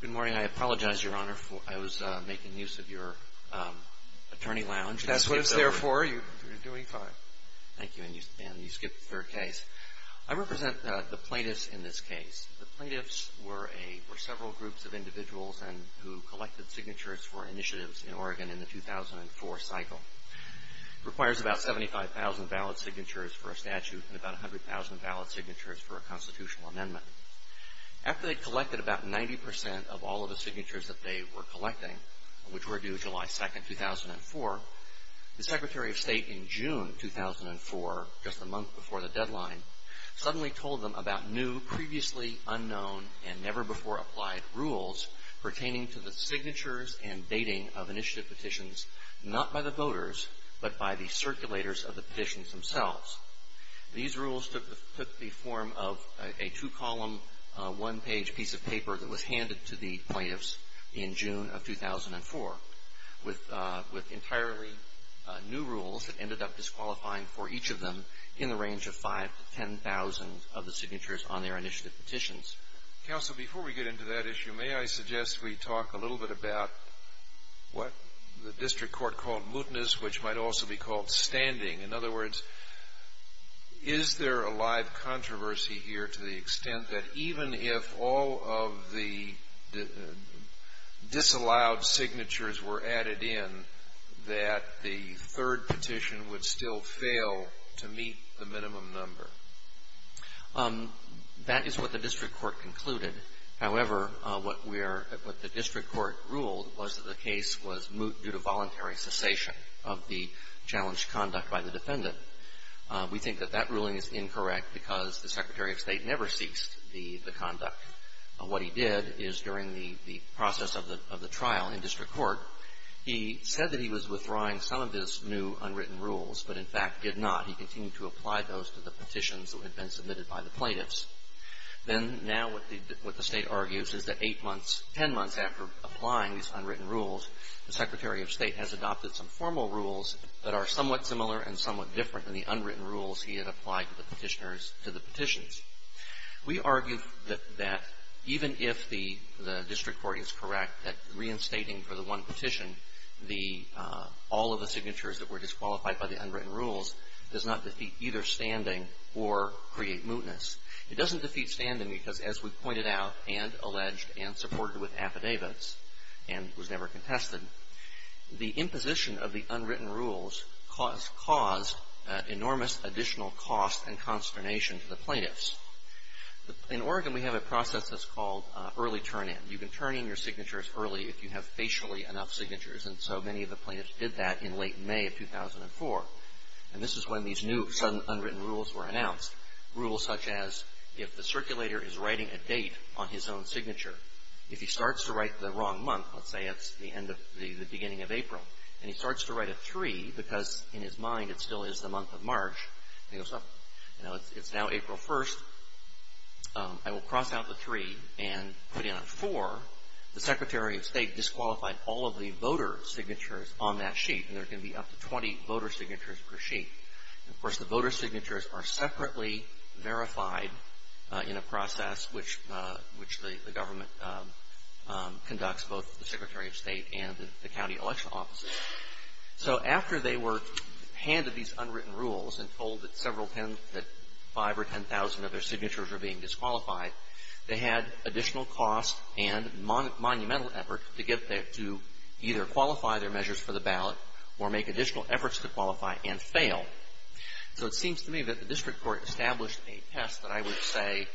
Good morning. I apologize, Your Honor, I was making use of your attorney lounge. That's what it's there for. You're doing fine. Thank you. And you skipped the third case. I represent the plaintiffs in this case. The plaintiffs were several groups of individuals who collected signatures for initiatives in Oregon in the 2004 cycle. It requires about 75,000 valid signatures for a statute and about 100,000 valid signatures for a constitutional amendment. After they'd collected about 90% of all of the signatures that they were collecting, which were due July 2, 2004, the Secretary of State in June 2004, just a month before the deadline, suddenly told them about new, previously unknown, and never-before-applied rules pertaining to the signatures and dating of initiative petitions, not by the voters, but by the circulators of the petitions themselves. These rules took the form of a two-column, one-page piece of paper that was handed to the plaintiffs in June of 2004 with entirely new rules that ended up disqualifying for each of them in the range of 5,000 to 10,000 of the signatures on their initiative petitions. Scalia. Counsel, before we get into that issue, may I suggest we talk a little bit about what the district court called mutinous, which might also be called standing? In other words, is there a live controversy here to the extent that even if all of the disallowed signatures were added in, that the third petition would still fail to meet the minimum number? That is what the district court concluded. However, what we are at, what the district court ruled was that the case was moot due to voluntary cessation of the challenged conduct by the defendant. We think that that ruling is incorrect because the Secretary of State never ceased the conduct. What he did is during the process of the trial in district court, he said that he was withdrawing some of his new unwritten rules, but in fact did not. He continued to apply those to the petitions that had been submitted by the plaintiffs. Then now what the State argues is that eight months, ten months after applying these unwritten rules, the Secretary of State has adopted some formal rules that are somewhat similar and somewhat different than the unwritten rules he had applied to the petitioners to the petitions. We argue that even if the district court is correct that reinstating for the one petition, all of the signatures that were disqualified by the unwritten rules does not defeat either standing or create mootness. It doesn't defeat standing because as we pointed out and alleged and supported with affidavits and was never contested, the imposition of the unwritten rules caused enormous additional cost and consternation to the plaintiffs. In Oregon, we have a process that's called early turn-in. You can turn in your signatures early if you have facially enough signatures. And so many of the plaintiffs did that in late May of 2004. And this is when these new sudden unwritten rules were announced. Rules such as if the circulator is writing a date on his own signature, if he starts to write the wrong month, let's say it's the end of the beginning of April, and he starts to write a 3 because in his mind it still is the month of March, and he goes, well, you know, it's now April 1st. I will cross out the 3 and put in a 4. The Secretary of State disqualified all of the voter signatures on that sheet, and there can be up to 20 voter signatures per sheet. And, of course, the voter signatures are separately verified in a process which the government conducts, both the Secretary of State and the county election offices. So after they were handed these unwritten rules and told that several tens, that 5 or 10,000 of their signatures were being disqualified, they had additional cost and monumental effort to get there, to either qualify their measures for the ballot or make additional efforts to qualify and fail. So it seems to me that the district court established a test that I would say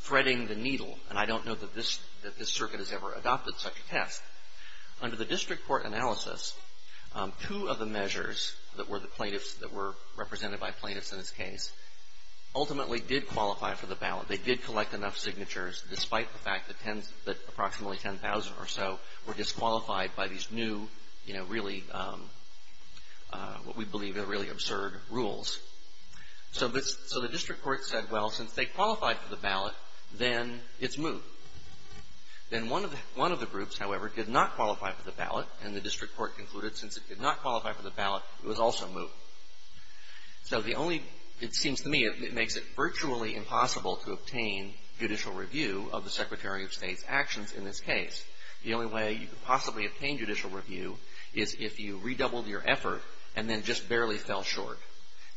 threading the needle, and I don't know that this circuit has ever adopted such a test. Under the district court analysis, two of the measures that were the plaintiffs, that were represented by plaintiffs in this case, ultimately did qualify for the ballot. They did collect enough signatures, despite the fact that approximately 10,000 or so were disqualified by these new, you know, really, what we believe are really absurd rules. So the district court said, well, since they qualified for the ballot, then it's moot. Then one of the groups, however, did not qualify for the ballot, and the district court concluded since it did not qualify for the ballot, it was also moot. So the only, it seems to me, it makes it virtually impossible to obtain judicial review of the Secretary of State's actions in this case. The only way you could possibly obtain judicial review is if you redoubled your effort and then just barely fell short.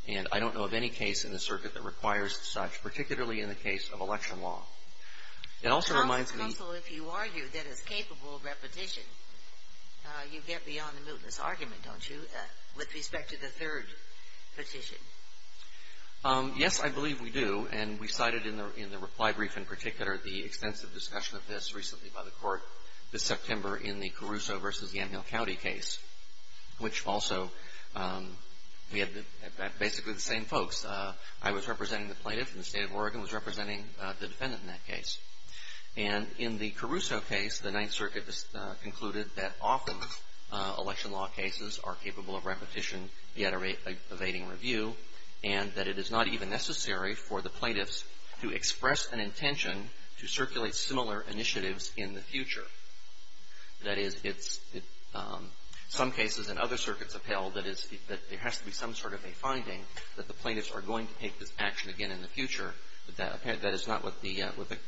And I don't know of any case in the circuit that requires such, particularly in the case of election law. It also reminds me. Counsel, if you argue that it's capable of repetition, you get beyond the mootness argument, don't you, with respect to the third petition? Yes, I believe we do. And we cited in the reply brief in particular the extensive discussion of this recently by the court, this September in the Caruso v. Yamhill County case, which also we had basically the same folks. I was representing the plaintiff, and the State of Oregon was representing the defendant in that case. And in the Caruso case, the Ninth Circuit concluded that often election law cases are capable of repetition, yet evading review, and that it is not even necessary for the plaintiffs to express an intention to circulate similar initiatives in the future. That is, it's some cases and other circuits upheld that there has to be some sort of a finding that the plaintiffs are going to take this action again in the future, but that is not what the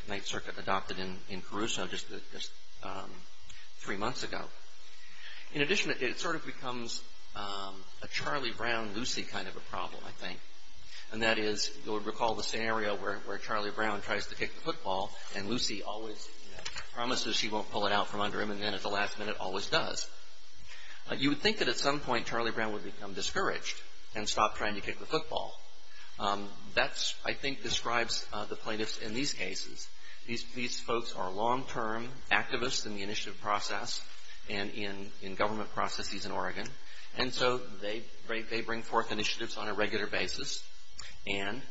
Ninth Circuit adopted in Caruso just three months ago. In addition, it sort of becomes a Charlie Brown-Lucy kind of a problem, I think. And that is, you'll recall the scenario where Charlie Brown tries to kick the football, and Lucy always promises she won't pull it out from under him, and then at the last minute always does. You would think that at some point Charlie Brown would become discouraged and stop trying to kick the football. That, I think, describes the plaintiffs in these cases. These folks are long-term activists in the initiative process and in government processes in Oregon. And so they bring forth initiatives on a regular basis, and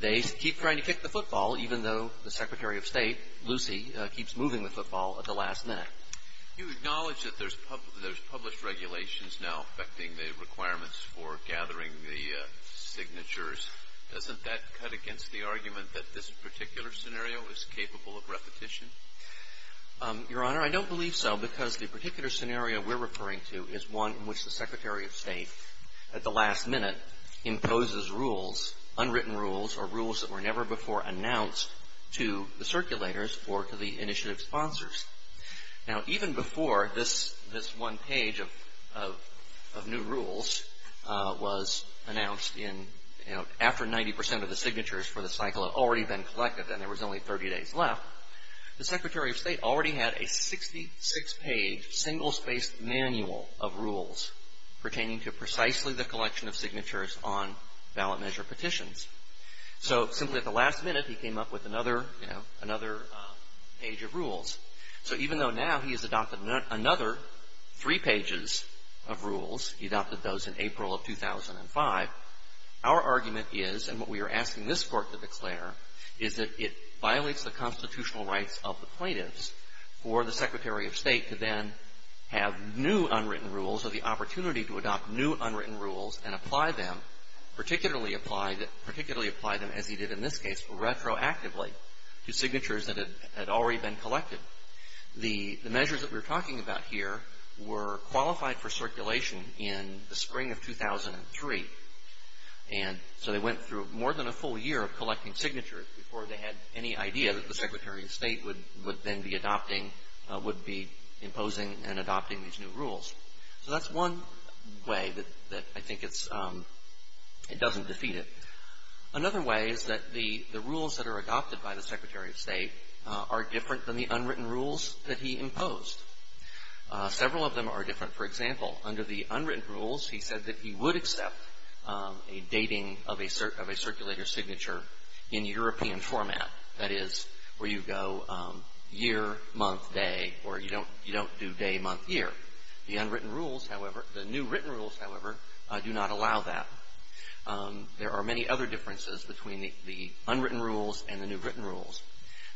they keep trying to kick the football, even though the Secretary of State, Lucy, keeps moving the football at the last minute. You acknowledge that there's published regulations now affecting the requirements for gathering the signatures. Doesn't that cut against the argument that this particular scenario is capable of repetition? Your Honor, I don't believe so because the particular scenario we're referring to is one in which the Secretary of State at the last minute imposes rules, unwritten rules or rules that were never before announced to the circulators or to the initiative sponsors. Now, even before this one page of new rules was announced in, you know, after 90 percent of the signatures for the cycle had already been collected and there was only 30 days left, the Secretary of State already had a 66-page, single-spaced manual of rules pertaining to precisely the collection of signatures on ballot measure petitions. So simply at the last minute, he came up with another, you know, another page of rules. So even though now he has adopted another three pages of rules, he adopted those in April of 2005, our argument is and what we are asking this Court to declare is that it violates the constitutional rights of the plaintiffs for the Secretary of State to then have new unwritten rules or the opportunity to adopt new unwritten rules and apply them, particularly apply them as he did in this case, retroactively to signatures that had already been collected. The measures that we are talking about here were qualified for circulation in the spring of 2003. And so they went through more than a full year of collecting signatures before they had any idea that the Secretary of State would then be adopting, would be imposing and adopting these new rules. So that's one way that I think it's, it doesn't defeat it. Another way is that the rules that are adopted by the Secretary of State are different than the unwritten rules that he imposed. Several of them are different. For example, under the unwritten rules, he said that he would accept a dating of a circulator's signature in European format. That is, where you go year, month, day, or you don't do day, month, year. The unwritten rules, however, the new written rules, however, do not allow that. There are many other differences between the unwritten rules and the new written rules.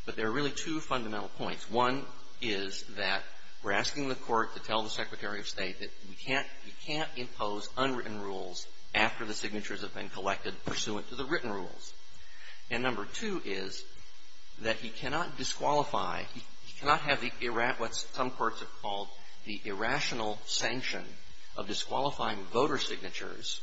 But there are really two fundamental points. One is that we're asking the Court to tell the Secretary of State that we can't, you can't impose unwritten rules after the signatures have been collected pursuant to the written rules. And number two is that he cannot disqualify, he cannot have the, what some courts have called the irrational sanction of disqualifying voter signatures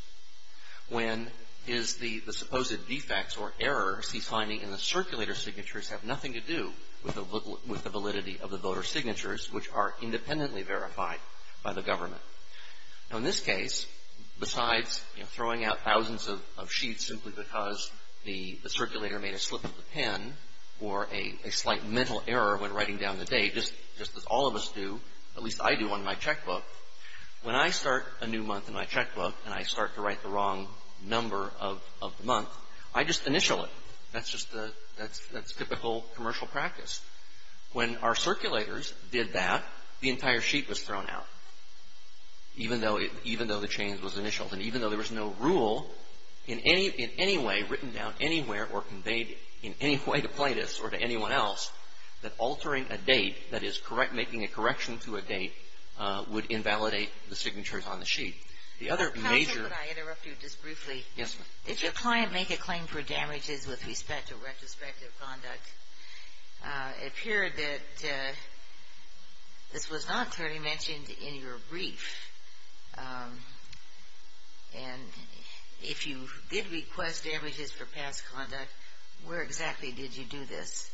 when his, the supposed defects or errors he's finding in the circulator's signatures have nothing to do with the validity of the voter's signatures, which are independently verified by the government. Now, in this case, besides throwing out thousands of sheets simply because the circulator made a slip of the pen or a slight mental error when writing down the date, just as all of us do, at least I do on my checkbook, when I start a new month in my checkbook and I start to write the wrong number of the month, I just initial it. That's just the, that's typical commercial practice. When our circulators did that, the entire sheet was thrown out, even though the change was initialed. And even though there was no rule in any, in any way written down anywhere or conveyed in any way to plaintiffs or to anyone else, that altering a date, that is correct, making a correction to a date, would invalidate the signatures on the sheet. The other major... Counsel, could I interrupt you just briefly? Yes, ma'am. If your client make a claim for damages with respect to retrospective conduct, it appeared that this was not clearly mentioned in your brief. And if you did request damages for past conduct, where exactly did you do this?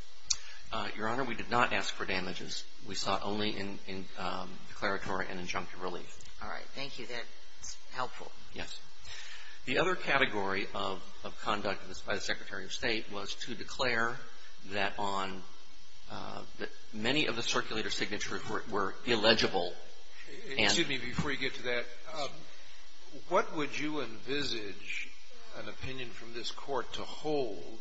Your Honor, we did not ask for damages. We sought only declaratory and injunctive relief. All right. Thank you. That's helpful. Yes. The other category of conduct by the Secretary of State was to declare that on, that many of the circulator signatures were illegible. Excuse me. Before you get to that, what would you envisage an opinion from this Court to hold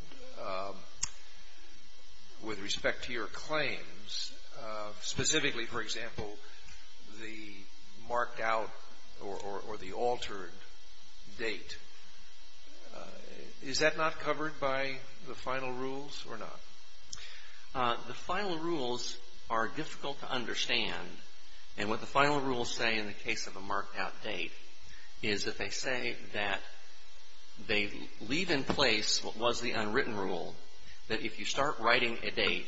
with respect to your claims, specifically, for example, the marked out or the altered date? Is that not covered by the final rules or not? The final rules are difficult to understand. And what the final rules say in the case of a marked out date is that they say that they leave in place what was the unwritten rule, that if you start writing a date,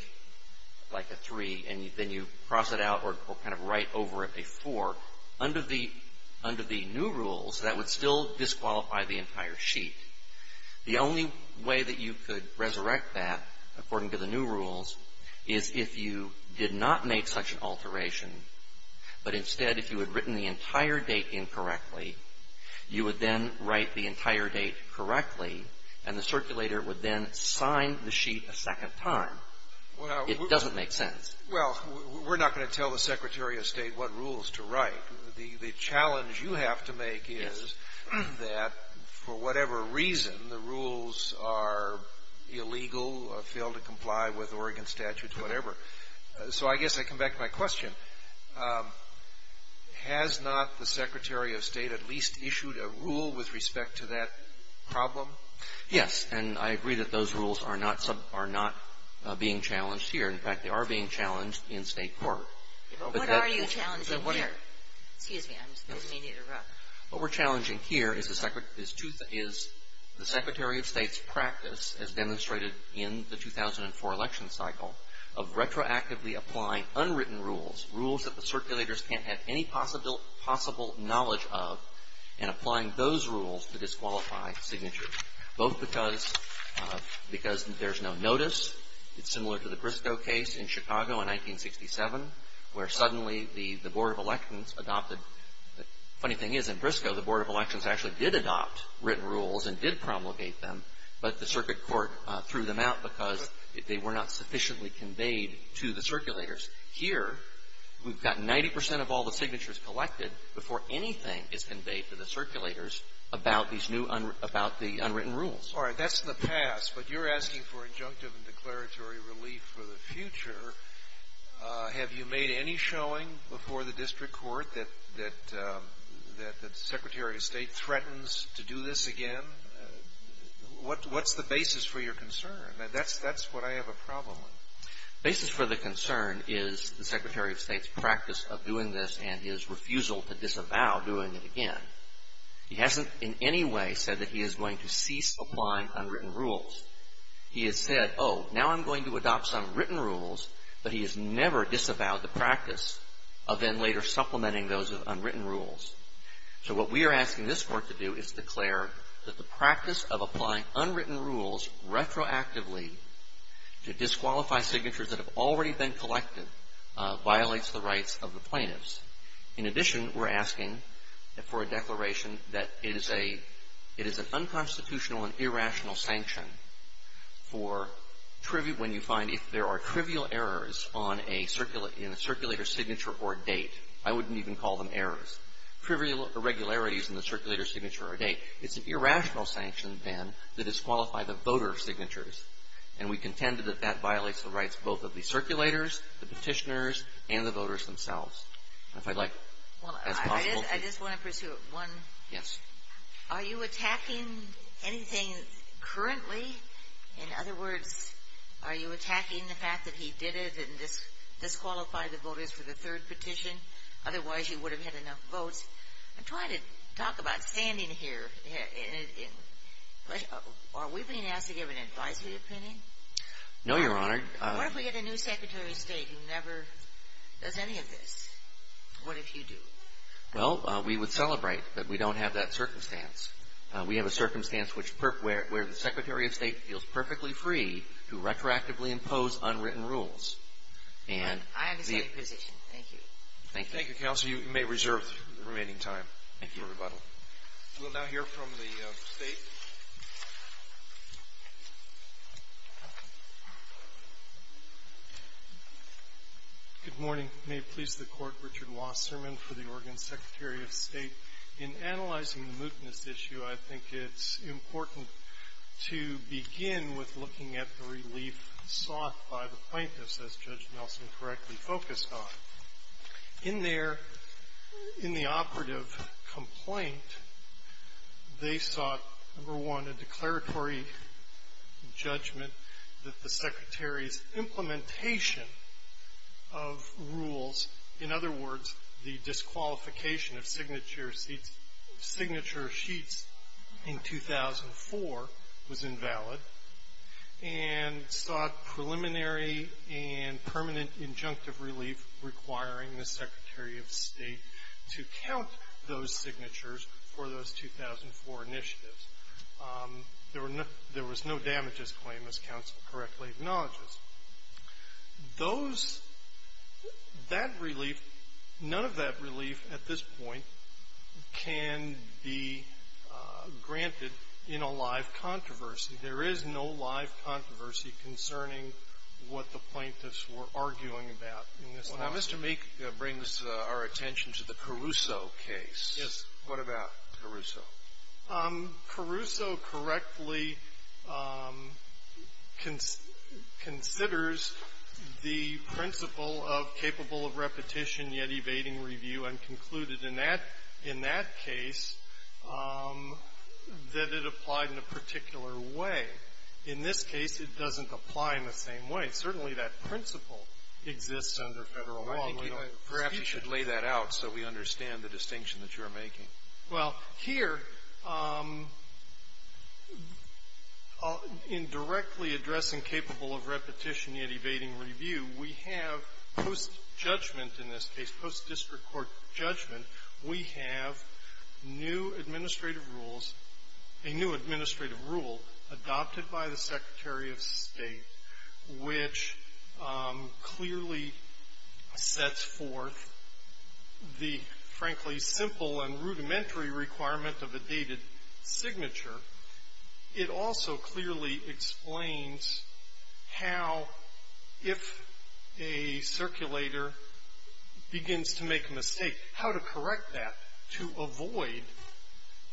like a 3, and then you cross it out or kind of write over it a 4, under the new rules, that would still disqualify the entire sheet. The only way that you could resurrect that, according to the new rules, is if you did not make such an alteration, but instead if you had written the entire date incorrectly, you would then write the entire date correctly, and the circulator would then sign the sheet a second time. It doesn't make sense. Well, we're not going to tell the Secretary of State what rules to write. The challenge you have to make is that, for whatever reason, the rules are illegal, fail to comply with Oregon statutes, whatever. So I guess I come back to my question. Has not the Secretary of State at least issued a rule with respect to that problem? Yes, and I agree that those rules are not being challenged here. In fact, they are being challenged in state court. But what are you challenging here? Excuse me. I may need to interrupt. What we're challenging here is the Secretary of State's practice, as demonstrated in the 2004 election cycle, of retroactively applying unwritten rules, rules that the circulators can't have any possible knowledge of, and applying those rules to disqualify signatures, both because there's no notice. It's similar to the Briscoe case in Chicago in 1967, where suddenly the Board of Elections adopted The funny thing is, in Briscoe, the Board of Elections actually did adopt written rules and did promulgate them, but the circuit court threw them out because they were not sufficiently conveyed to the circulators. Here, we've got 90 percent of all the signatures collected before anything is conveyed to the circulators about these new unwritten rules. All right. That's the past. But you're asking for injunctive and declaratory relief for the future. Have you made any showing before the district court that the Secretary of State threatens to do this again? What's the basis for your concern? That's what I have a problem with. The basis for the concern is the Secretary of State's practice of doing this and his refusal to disavow doing it again. He hasn't in any way said that he is going to cease applying unwritten rules. He has said, oh, now I'm going to adopt some written rules, but he has never disavowed the practice of then later supplementing those with unwritten rules. So what we are asking this Court to do is declare that the practice of applying unwritten rules retroactively to disqualify signatures that have already been collected violates the rights of the plaintiffs. In addition, we're asking for a declaration that it is a unconstitutional and irrational sanction for when you find if there are trivial errors in a circulator's signature or date. I wouldn't even call them errors. Trivial irregularities in the circulator's signature or date. It's an irrational sanction, then, to disqualify the voter signatures. And we contend that that violates the rights both of the circulators, the Petitioners, and the voters themselves. If I'd like, if that's possible. I just want to pursue one. Yes. Are you attacking anything currently? In other words, are you attacking the fact that he did it and disqualified the voters for the third petition? Otherwise, you would have had enough votes. I'm trying to talk about standing here. Are we being asked to give an advisory opinion? No, Your Honor. What if we get a new Secretary of State who never does any of this? What if you do? Well, we would celebrate that we don't have that circumstance. We have a circumstance where the Secretary of State feels perfectly free to retroactively impose unwritten rules. I understand your position. Thank you. Thank you, Counsel. You may reserve the remaining time for rebuttal. Thank you. We'll now hear from the State. Good morning. May it please the Court. Richard Wasserman for the Oregon Secretary of State. In analyzing the mootness issue, I think it's important to begin with looking at the relief sought by the plaintiffs, as Judge Nelson correctly focused on. In their — in the operative complaint, they sought, number one, a declaratory judgment that the Secretary's implementation of rules, in other words, the disqualification of signature sheets in 2004, was invalid, and sought preliminary and permanent injunctive relief requiring the Secretary of State to count those signatures for those 2004 initiatives. There were no — there was no damages claim, as Counsel correctly acknowledges. Those — that relief, none of that relief at this point can be granted in a live controversy. There is no live controversy concerning what the plaintiffs were arguing about in this lawsuit. Well, now, Mr. Meek brings our attention to the Caruso case. Yes. What about Caruso? Caruso correctly considers the principle of capable of repetition, yet evading review, and concluded in that — in that case that it applied in a particular way. In this case, it doesn't apply in the same way. Certainly, that principle exists under Federal law. We don't see it. Perhaps you should lay that out so we understand the distinction that you're making. Well, here, in directly addressing capable of repetition, yet evading review, we have post-judgment in this case, post-district court judgment, we have new administrative rules — a new administrative rule adopted by the Secretary of State, which clearly sets forth the, frankly, simple and rudimentary requirement of a dated signature. It also clearly explains how, if a circulator begins to make a mistake, how to correct that to avoid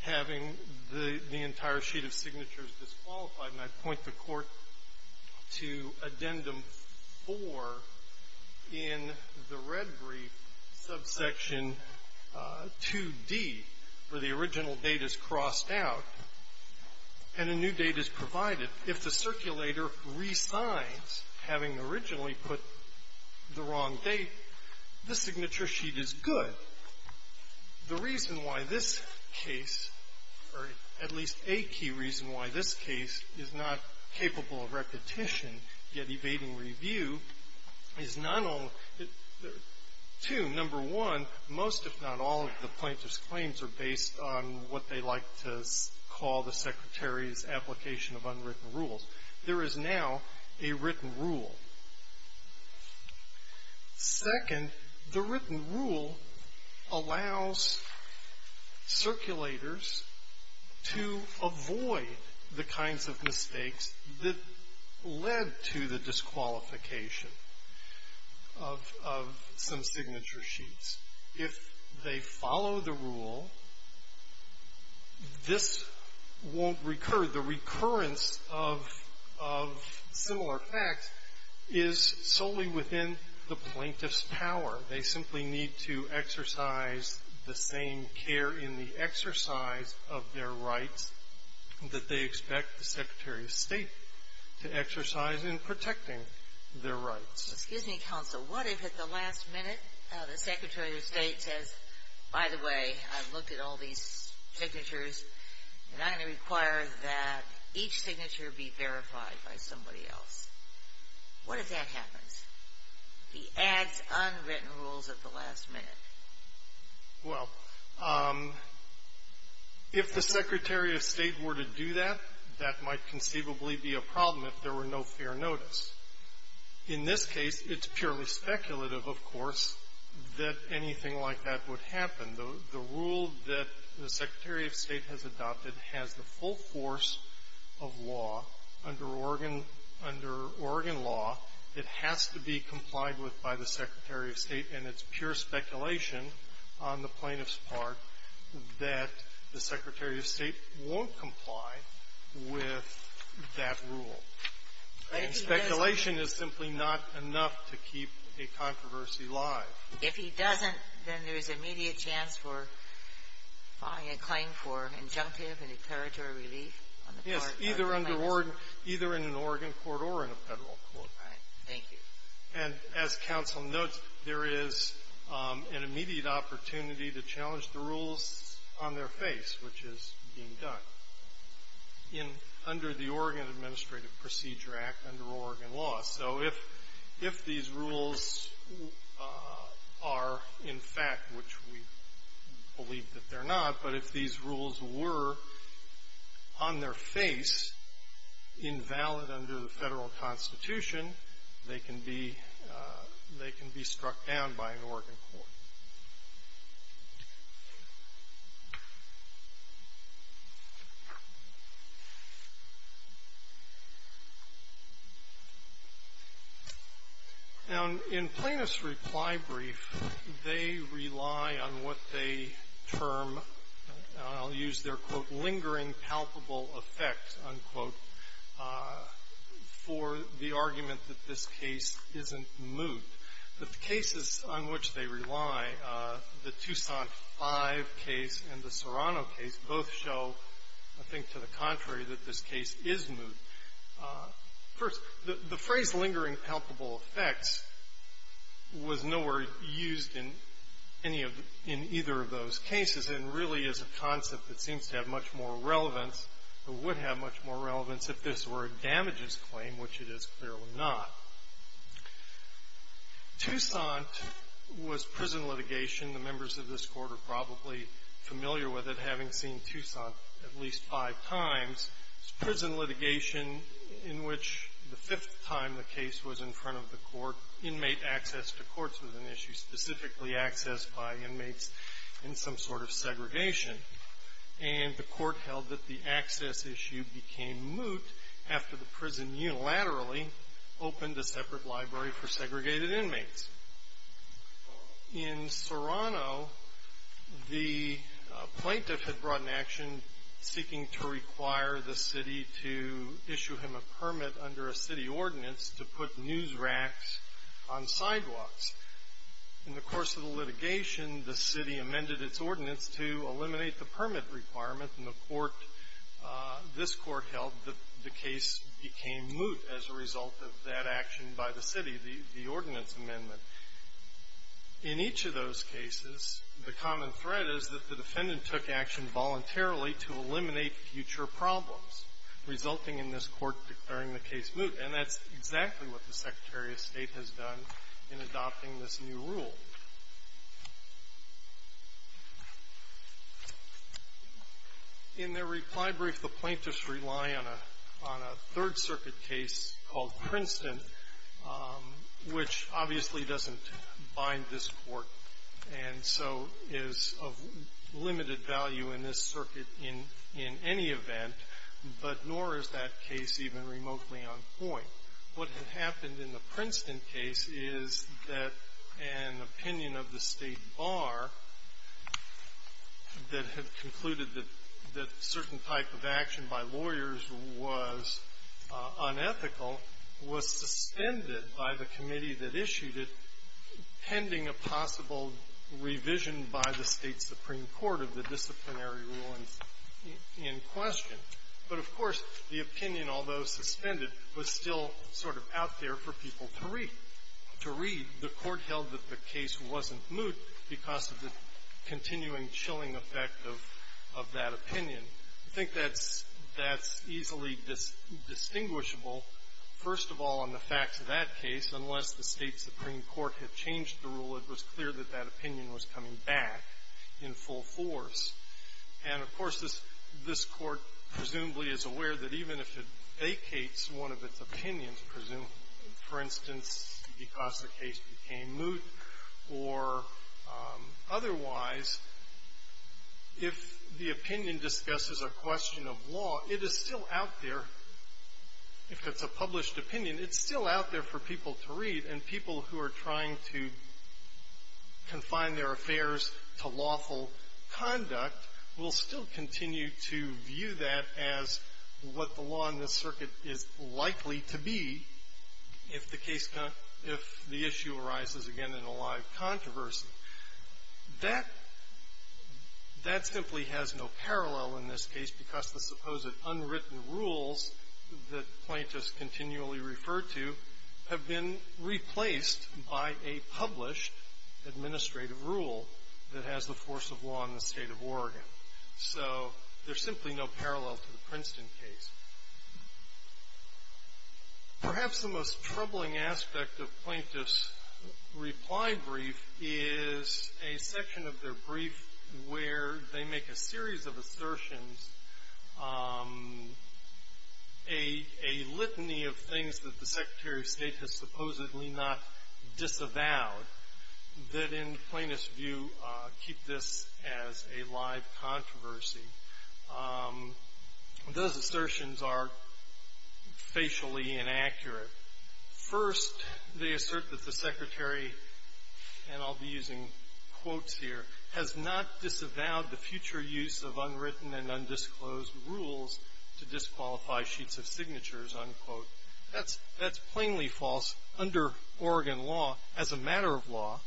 having the entire sheet of signatures disqualified. And I point the Court to Addendum 4 in the red brief, subsection 2d, where the original date is crossed out and a new date is provided. If the circulator resigns, having originally put the wrong date, the signature sheet is good. The reason why this case, or at least a key reason why this case is not capable of repetition, yet evading review, is not only — two, number one, most, if not all, of the plaintiff's claims are based on what they like to call the Secretary's application of unwritten rules. There is now a written rule. Second, the written rule allows circulators to avoid the kinds of mistakes that led to the disqualification of some signature sheets. If they follow the rule, this won't recur. The recurrence of similar facts is solely within the plaintiff's power. They simply need to exercise the same care in the exercise of their rights that they expect the Secretary of State to exercise in protecting their rights. Excuse me, Counsel. What if at the last minute, the Secretary of State says, by the way, I've looked at all these signatures, and I'm going to require that each signature be verified by somebody else? What if that happens? He adds unwritten rules at the last minute. Well, if the Secretary of State were to do that, that might conceivably be a problem if there were no fair notice. In this case, it's purely speculative, of course, that anything like that would happen. The rule that the Secretary of State has adopted has the full force of law. Under Oregon law, it has to be complied with by the Secretary of State, and it's pure speculation on the plaintiff's part that the Secretary of State won't comply with that rule. Speculation is simply not enough to keep a controversy alive. If he doesn't, then there is immediate chance for filing a claim for injunctive and a territory relief on the part of the plaintiff? Yes, either in an Oregon court or in a Federal court. Right. Thank you. And as Counsel notes, there is an immediate opportunity to challenge the rules on their face, which is being done under the Oregon Administrative Procedure Act, under Oregon law. So if these rules are, in fact, which we believe that they're not, but if these rules were on their face, invalid under the Federal Constitution, they can be struck down by an Oregon court. Now, in plaintiff's reply brief, they rely on what they term, and I'll use their, quote, the Tucson 5 case and the Serrano case both show, I think, to the contrary, that this case is moot. First, the phrase, lingering palpable effects, was nowhere used in any of the — in either of those cases, and really is a concept that seems to have much more relevance, or would have much more relevance, if this were a damages claim, which it is clearly not. Tucson was prison litigation. The members of this court are probably familiar with it, having seen Tucson at least five times. It's prison litigation in which the fifth time the case was in front of the court, inmate access to courts was an issue, specifically access by inmates in some sort of segregation. And the court held that the access issue became moot after the prison unilaterally opened a separate library for segregated inmates. In Serrano, the plaintiff had brought an action seeking to require the city to issue him a permit under a city ordinance to put news racks on sidewalks. In the course of the litigation, the city amended its ordinance to eliminate the permit requirement, and the court — this court held that the case became moot as a result of that action by the city, the ordinance amendment. In each of those cases, the common thread is that the defendant took action voluntarily to eliminate future problems, resulting in this court declaring the case moot. And that's exactly what the Secretary of State has done in adopting this new rule. In their reply brief, the plaintiffs rely on a Third Circuit case called Princeton, which obviously doesn't bind this court and so is of limited value in this circuit in any event, but nor is that case even remotely on point. What had happened in the Princeton case is that an opinion of the State Bar that had concluded that certain type of action by lawyers was unethical was suspended by the committee that issued it, pending a possible revision by the State Supreme Court of the disciplinary rulings in question. But, of course, the opinion, although suspended, was still sort of out there for people to read. To read, the court held that the case wasn't moot because of the continuing chilling effect of that opinion. I think that's easily distinguishable, first of all, on the facts of that case, unless the State Supreme Court had changed the rule, it was clear that that opinion was coming back in full force. And, of course, this court presumably is aware that even if it vacates one of its opinions, presumably, for instance, because the case became moot or otherwise, if the opinion discusses a question of law, it is still out there. If it's a published opinion, it's still out there for people to read. And people who are trying to confine their affairs to lawful conduct will still continue to view that as what the law in this circuit is likely to be if the issue arises again in a live controversy. That simply has no parallel in this case because the supposed unwritten rules that plaintiffs continually refer to have been replaced by a published administrative rule that has the force of law in the State of Oregon. So there's simply no parallel to the Princeton case. Perhaps the most troubling aspect of plaintiffs' reply brief is a section of their brief where they make a series of assertions, a litany of things that the Secretary of State has supposedly not disavowed, that in plaintiff's view keep this as a live controversy. Those assertions are facially inaccurate. First, they assert that the Secretary, and I'll be using quotes here, has not disavowed the future use of unwritten and undisclosed rules to disqualify sheets of signatures, unquote. That's plainly false. Under Oregon law, as a matter of law,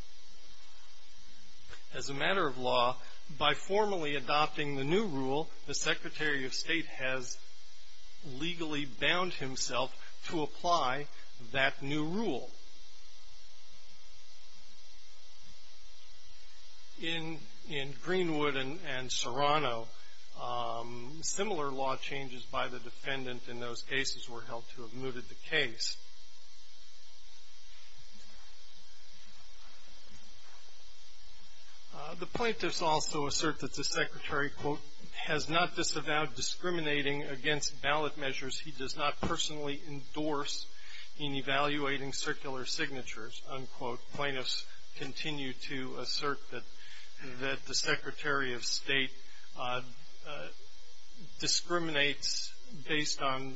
by formally adopting the new rule, the Secretary of State has legally bound himself to apply that new rule. In Greenwood and Serrano, similar law changes by the defendant in those cases were held to have mooted the case. The plaintiffs also assert that the Secretary, quote, has not disavowed discriminating against ballot measures he does not personally endorse in evaluating circular signatures, unquote. Plaintiffs continue to assert that the Secretary of State discriminates based on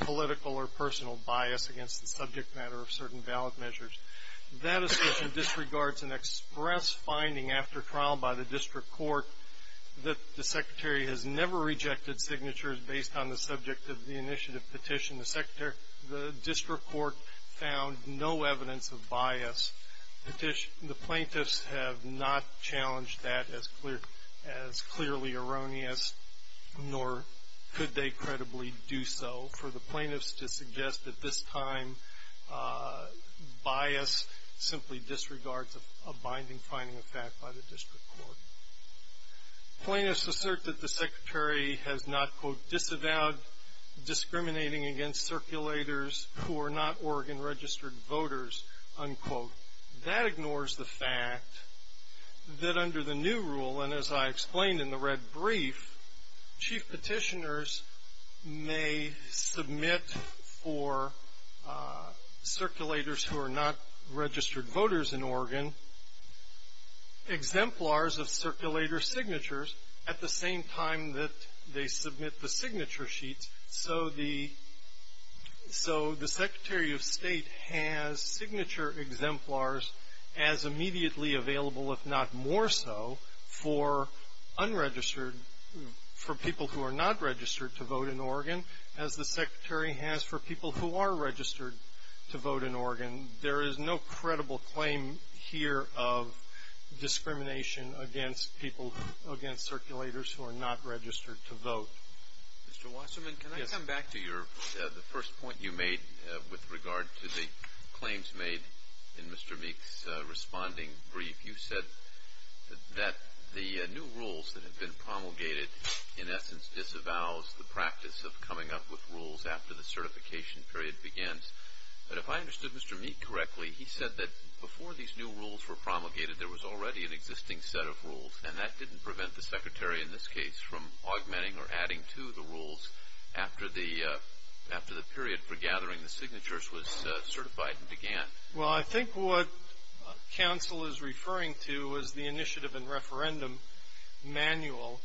political or personal bias against the subject matter of certain ballot measures. That assertion disregards an express finding after trial by the district court that the Secretary has never rejected signatures based on the subject of the initiative petition. The district court found no evidence of bias. The plaintiffs have not challenged that as clearly erroneous, nor could they credibly do so. It is reasonable for the plaintiffs to suggest that this time, bias simply disregards a binding finding of fact by the district court. Plaintiffs assert that the Secretary has not, quote, disavowed discriminating against circulators who are not Oregon registered voters, unquote. That ignores the fact that under the new rule, and as I explained in the red brief, chief petitioners may submit for circulators who are not registered voters in Oregon exemplars of circulator signatures at the same time that they submit the signature sheets. So the Secretary of State has signature exemplars as immediately available, if not more so, for unregistered, for people who are not registered to vote in Oregon, as the Secretary has for people who are registered to vote in Oregon. There is no credible claim here of discrimination against people, against circulators who are not registered to vote. Mr. Wasserman, can I come back to the first point you made with regard to the claims made in Mr. Meek's responding brief? You said that the new rules that have been promulgated, in essence, disavows the practice of coming up with rules after the certification period begins. But if I understood Mr. Meek correctly, he said that before these new rules were promulgated, there was already an existing set of rules, and that didn't prevent the Secretary in this case from augmenting or adding to the rules after the period for gathering the signatures was certified and began. Well, I think what counsel is referring to is the initiative and referendum manual,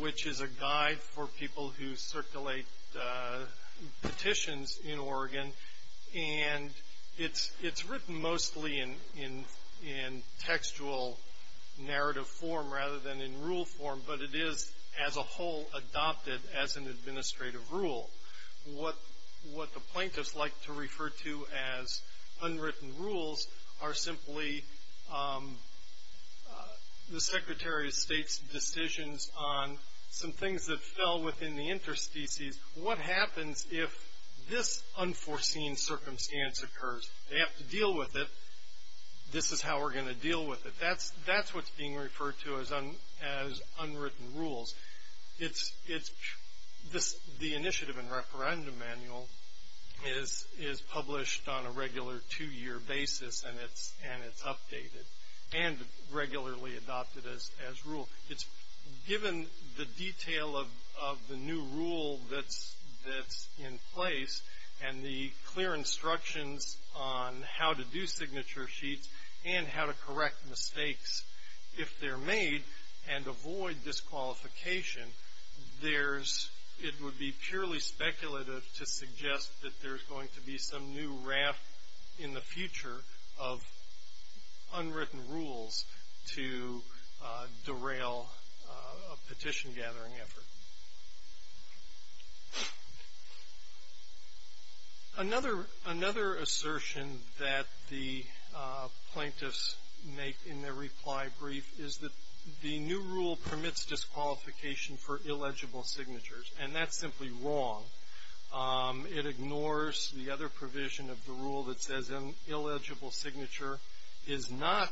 which is a guide for people who circulate petitions in Oregon. And it's written mostly in textual narrative form rather than in rule form, but it is, as a whole, adopted as an administrative rule. What the plaintiffs like to refer to as unwritten rules are simply the Secretary of State's decisions on some things that fell within the interstices. What happens if this unforeseen circumstance occurs? They have to deal with it. This is how we're going to deal with it. That's what's being referred to as unwritten rules. The initiative and referendum manual is published on a regular two-year basis, and it's updated and regularly adopted as rule. It's given the detail of the new rule that's in place and the clear instructions on how to do signature sheets and how to correct mistakes if they're made and avoid disqualification. It would be purely speculative to suggest that there's going to be some new raft in the future of unwritten rules to derail a petition-gathering effort. Another assertion that the plaintiffs make in their reply brief is that the new rule permits disqualification for illegible signatures, and that's simply wrong. It ignores the other provision of the rule that says an illegible signature is not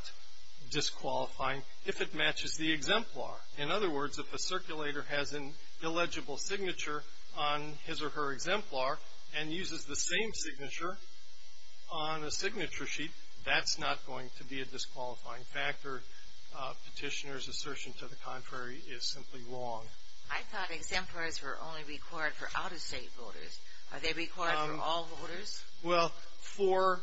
disqualifying if it matches the exemplar. In other words, if a circulator has an illegible signature on his or her exemplar and uses the same signature on a signature sheet, that's not going to be a disqualifying factor. Petitioners' assertion to the contrary is simply wrong. I thought exemplars were only required for out-of-state voters. Are they required for all voters? Well, for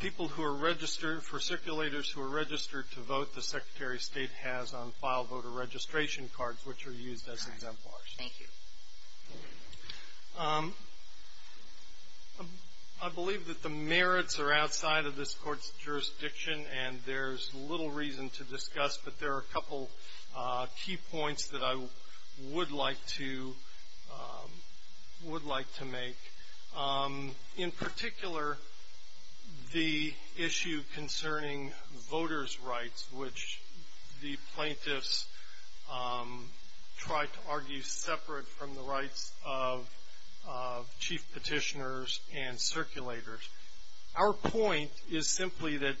people who are registered, for circulators who are registered to vote, the Secretary of State has on file voter registration cards, which are used as exemplars. Thank you. I believe that the merits are outside of this Court's jurisdiction, and there's little reason to discuss, but there are a couple key points that I would like to make. In particular, the issue concerning voters' rights, which the plaintiffs tried to argue separate from the rights of chief petitioners and circulators. Our point is simply that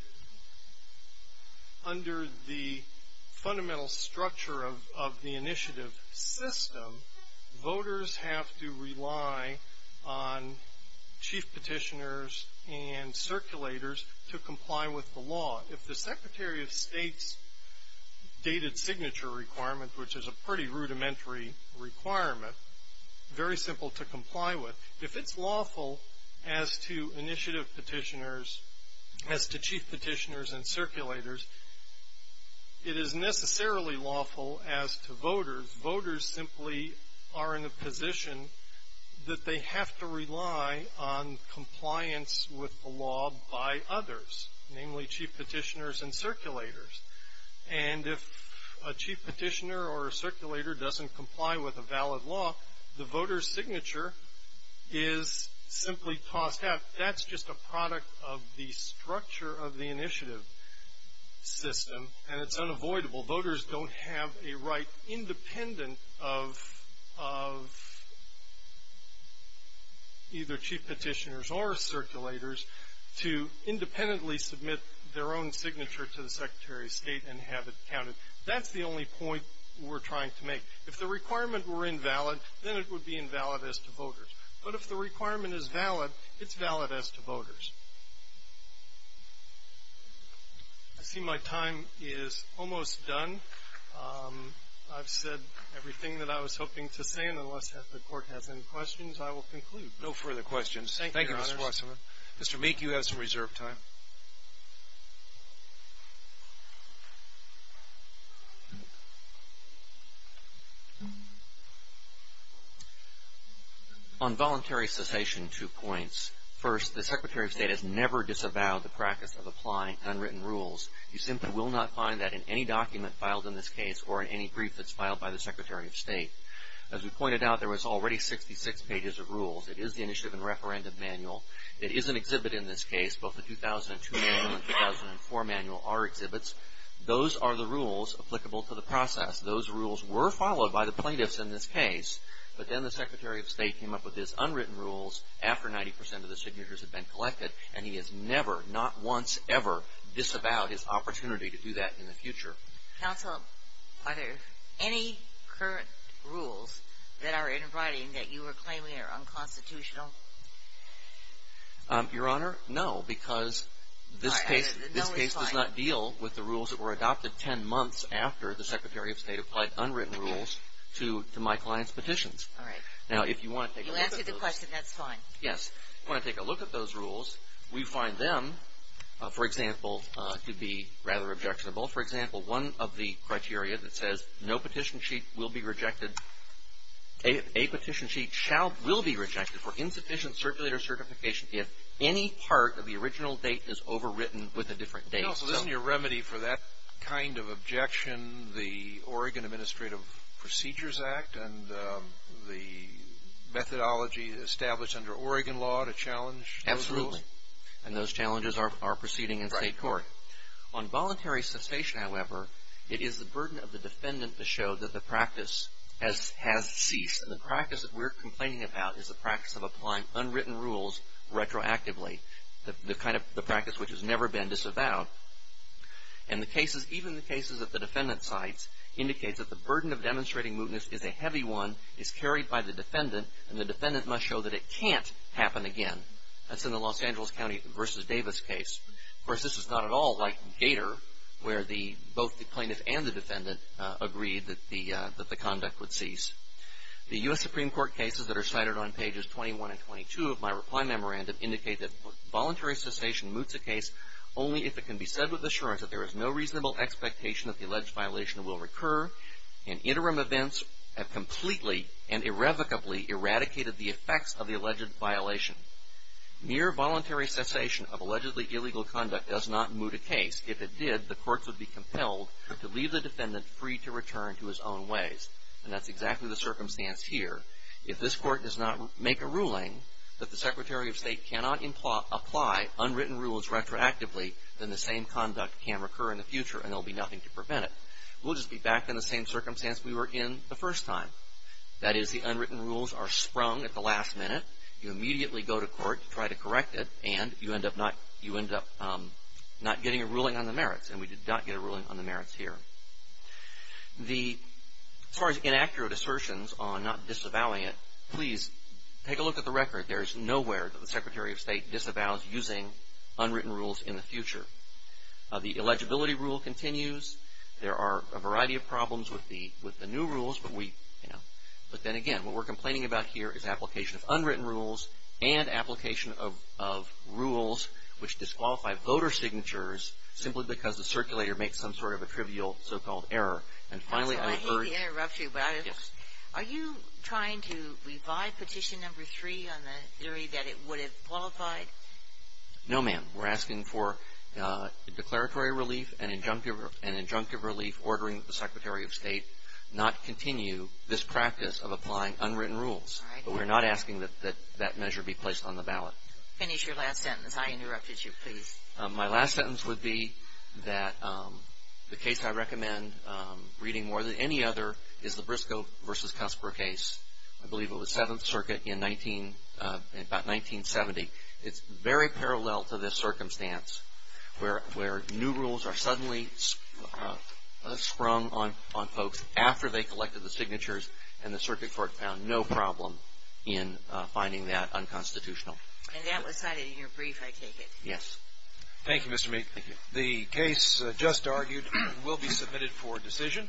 under the fundamental structure of the initiative system, voters have to rely on chief petitioners and circulators to comply with the law. If the Secretary of State's dated signature requirement, which is a pretty rudimentary requirement, very simple to comply with, if it's lawful as to chief petitioners and circulators, it is necessarily lawful as to voters. Voters simply are in a position that they have to rely on compliance with the law by others, namely chief petitioners and circulators. And if a chief petitioner or a circulator doesn't comply with a valid law, the voter's signature is simply tossed out. That's just a product of the structure of the initiative system, and it's unavoidable. Voters don't have a right, independent of either chief petitioners or circulators, to independently submit their own signature to the Secretary of State and have it counted. That's the only point we're trying to make. If the requirement were invalid, then it would be invalid as to voters. But if the requirement is valid, it's valid as to voters. I see my time is almost done. I've said everything that I was hoping to say, and unless the Court has any questions, I will conclude. No further questions. Thank you, Mr. Wasserman. Mr. Meek, you have some reserved time. On voluntary cessation, two points. First, the Secretary of State has never disavowed the practice of applying unwritten rules. You simply will not find that in any document filed in this case or in any brief that's filed by the Secretary of State. As we pointed out, there was already 66 pages of rules. It is the Initiative and Referendum Manual. It is an exhibit in this case. Both the 2002 manual and the 2004 manual are exhibits. Those are the rules applicable to the process. Those rules were followed by the plaintiffs in this case, but then the Secretary of State came up with his unwritten rules after 90 percent of the signatures had been collected, and he has never, not once, ever disavowed his opportunity to do that in the future. Counsel, are there any current rules that are in writing that you are claiming are unconstitutional? Your Honor, no, because this case does not deal with the rules that were adopted 10 months after the Secretary of State applied unwritten rules to my client's petitions. All right. Now, if you want to take a look at those. You answered the question. That's fine. Yes. If you want to take a look at those rules, we find them, for example, to be rather objectionable. For example, one of the criteria that says no petition sheet will be rejected, a petition sheet will be rejected for insufficient circulator certification if any part of the original date is overwritten with a different date. Counsel, isn't your remedy for that kind of objection the Oregon Administrative Procedures Act and the methodology established under Oregon law to challenge those rules? Absolutely. And those challenges are proceeding in state court. On voluntary cessation, however, it is the burden of the defendant to show that the practice has ceased. And the practice that we're complaining about is the practice of applying unwritten rules retroactively, the kind of practice which has never been disavowed. And the cases, even the cases that the defendant cites, indicates that the burden of demonstrating mootness is a heavy one, is carried by the defendant, and the defendant must show that it can't happen again. That's in the Los Angeles County v. Davis case. Of course, this is not at all like Gator, where both the plaintiff and the defendant agreed that the conduct would cease. The U.S. Supreme Court cases that are cited on pages 21 and 22 of my reply memorandum indicate that voluntary cessation moots a case only if it can be said with assurance that there is no reasonable expectation that the alleged violation will recur and interim events have completely and irrevocably eradicated the effects of the alleged violation. Mere voluntary cessation of allegedly illegal conduct does not moot a case. If it did, the courts would be compelled to leave the defendant free to return to his own ways. And that's exactly the circumstance here. If this court does not make a ruling that the Secretary of State cannot apply unwritten rules retroactively, then the same conduct can recur in the future, and there will be nothing to prevent it. We'll just be back in the same circumstance we were in the first time. That is, the unwritten rules are sprung at the last minute. You immediately go to court to try to correct it, and you end up not getting a ruling on the merits. And we did not get a ruling on the merits here. As far as inaccurate assertions on not disavowing it, please take a look at the record. There is nowhere that the Secretary of State disavows using unwritten rules in the future. The eligibility rule continues. There are a variety of problems with the new rules, but we, you know, but then again, what we're complaining about here is application of unwritten rules and application of rules which disqualify voter signatures simply because the circulator makes some sort of a trivial so-called error. And finally, I urge. I hate to interrupt you, but are you trying to revive petition number three on the theory that it would have qualified? No, ma'am. We're asking for declaratory relief and injunctive relief ordering the Secretary of State not continue this practice of applying unwritten rules. But we're not asking that that measure be placed on the ballot. Finish your last sentence. I interrupted you. Please. My last sentence would be that the case I recommend reading more than any other is the Briscoe v. Cusper case. I believe it was Seventh Circuit in about 1970. It's very parallel to this circumstance where new rules are suddenly sprung on folks after they collected the signatures and the circuit court found no problem in finding that unconstitutional. And that was cited in your brief, I take it? Yes. Thank you, Mr. Mead. Thank you. The case just argued will be submitted for decision.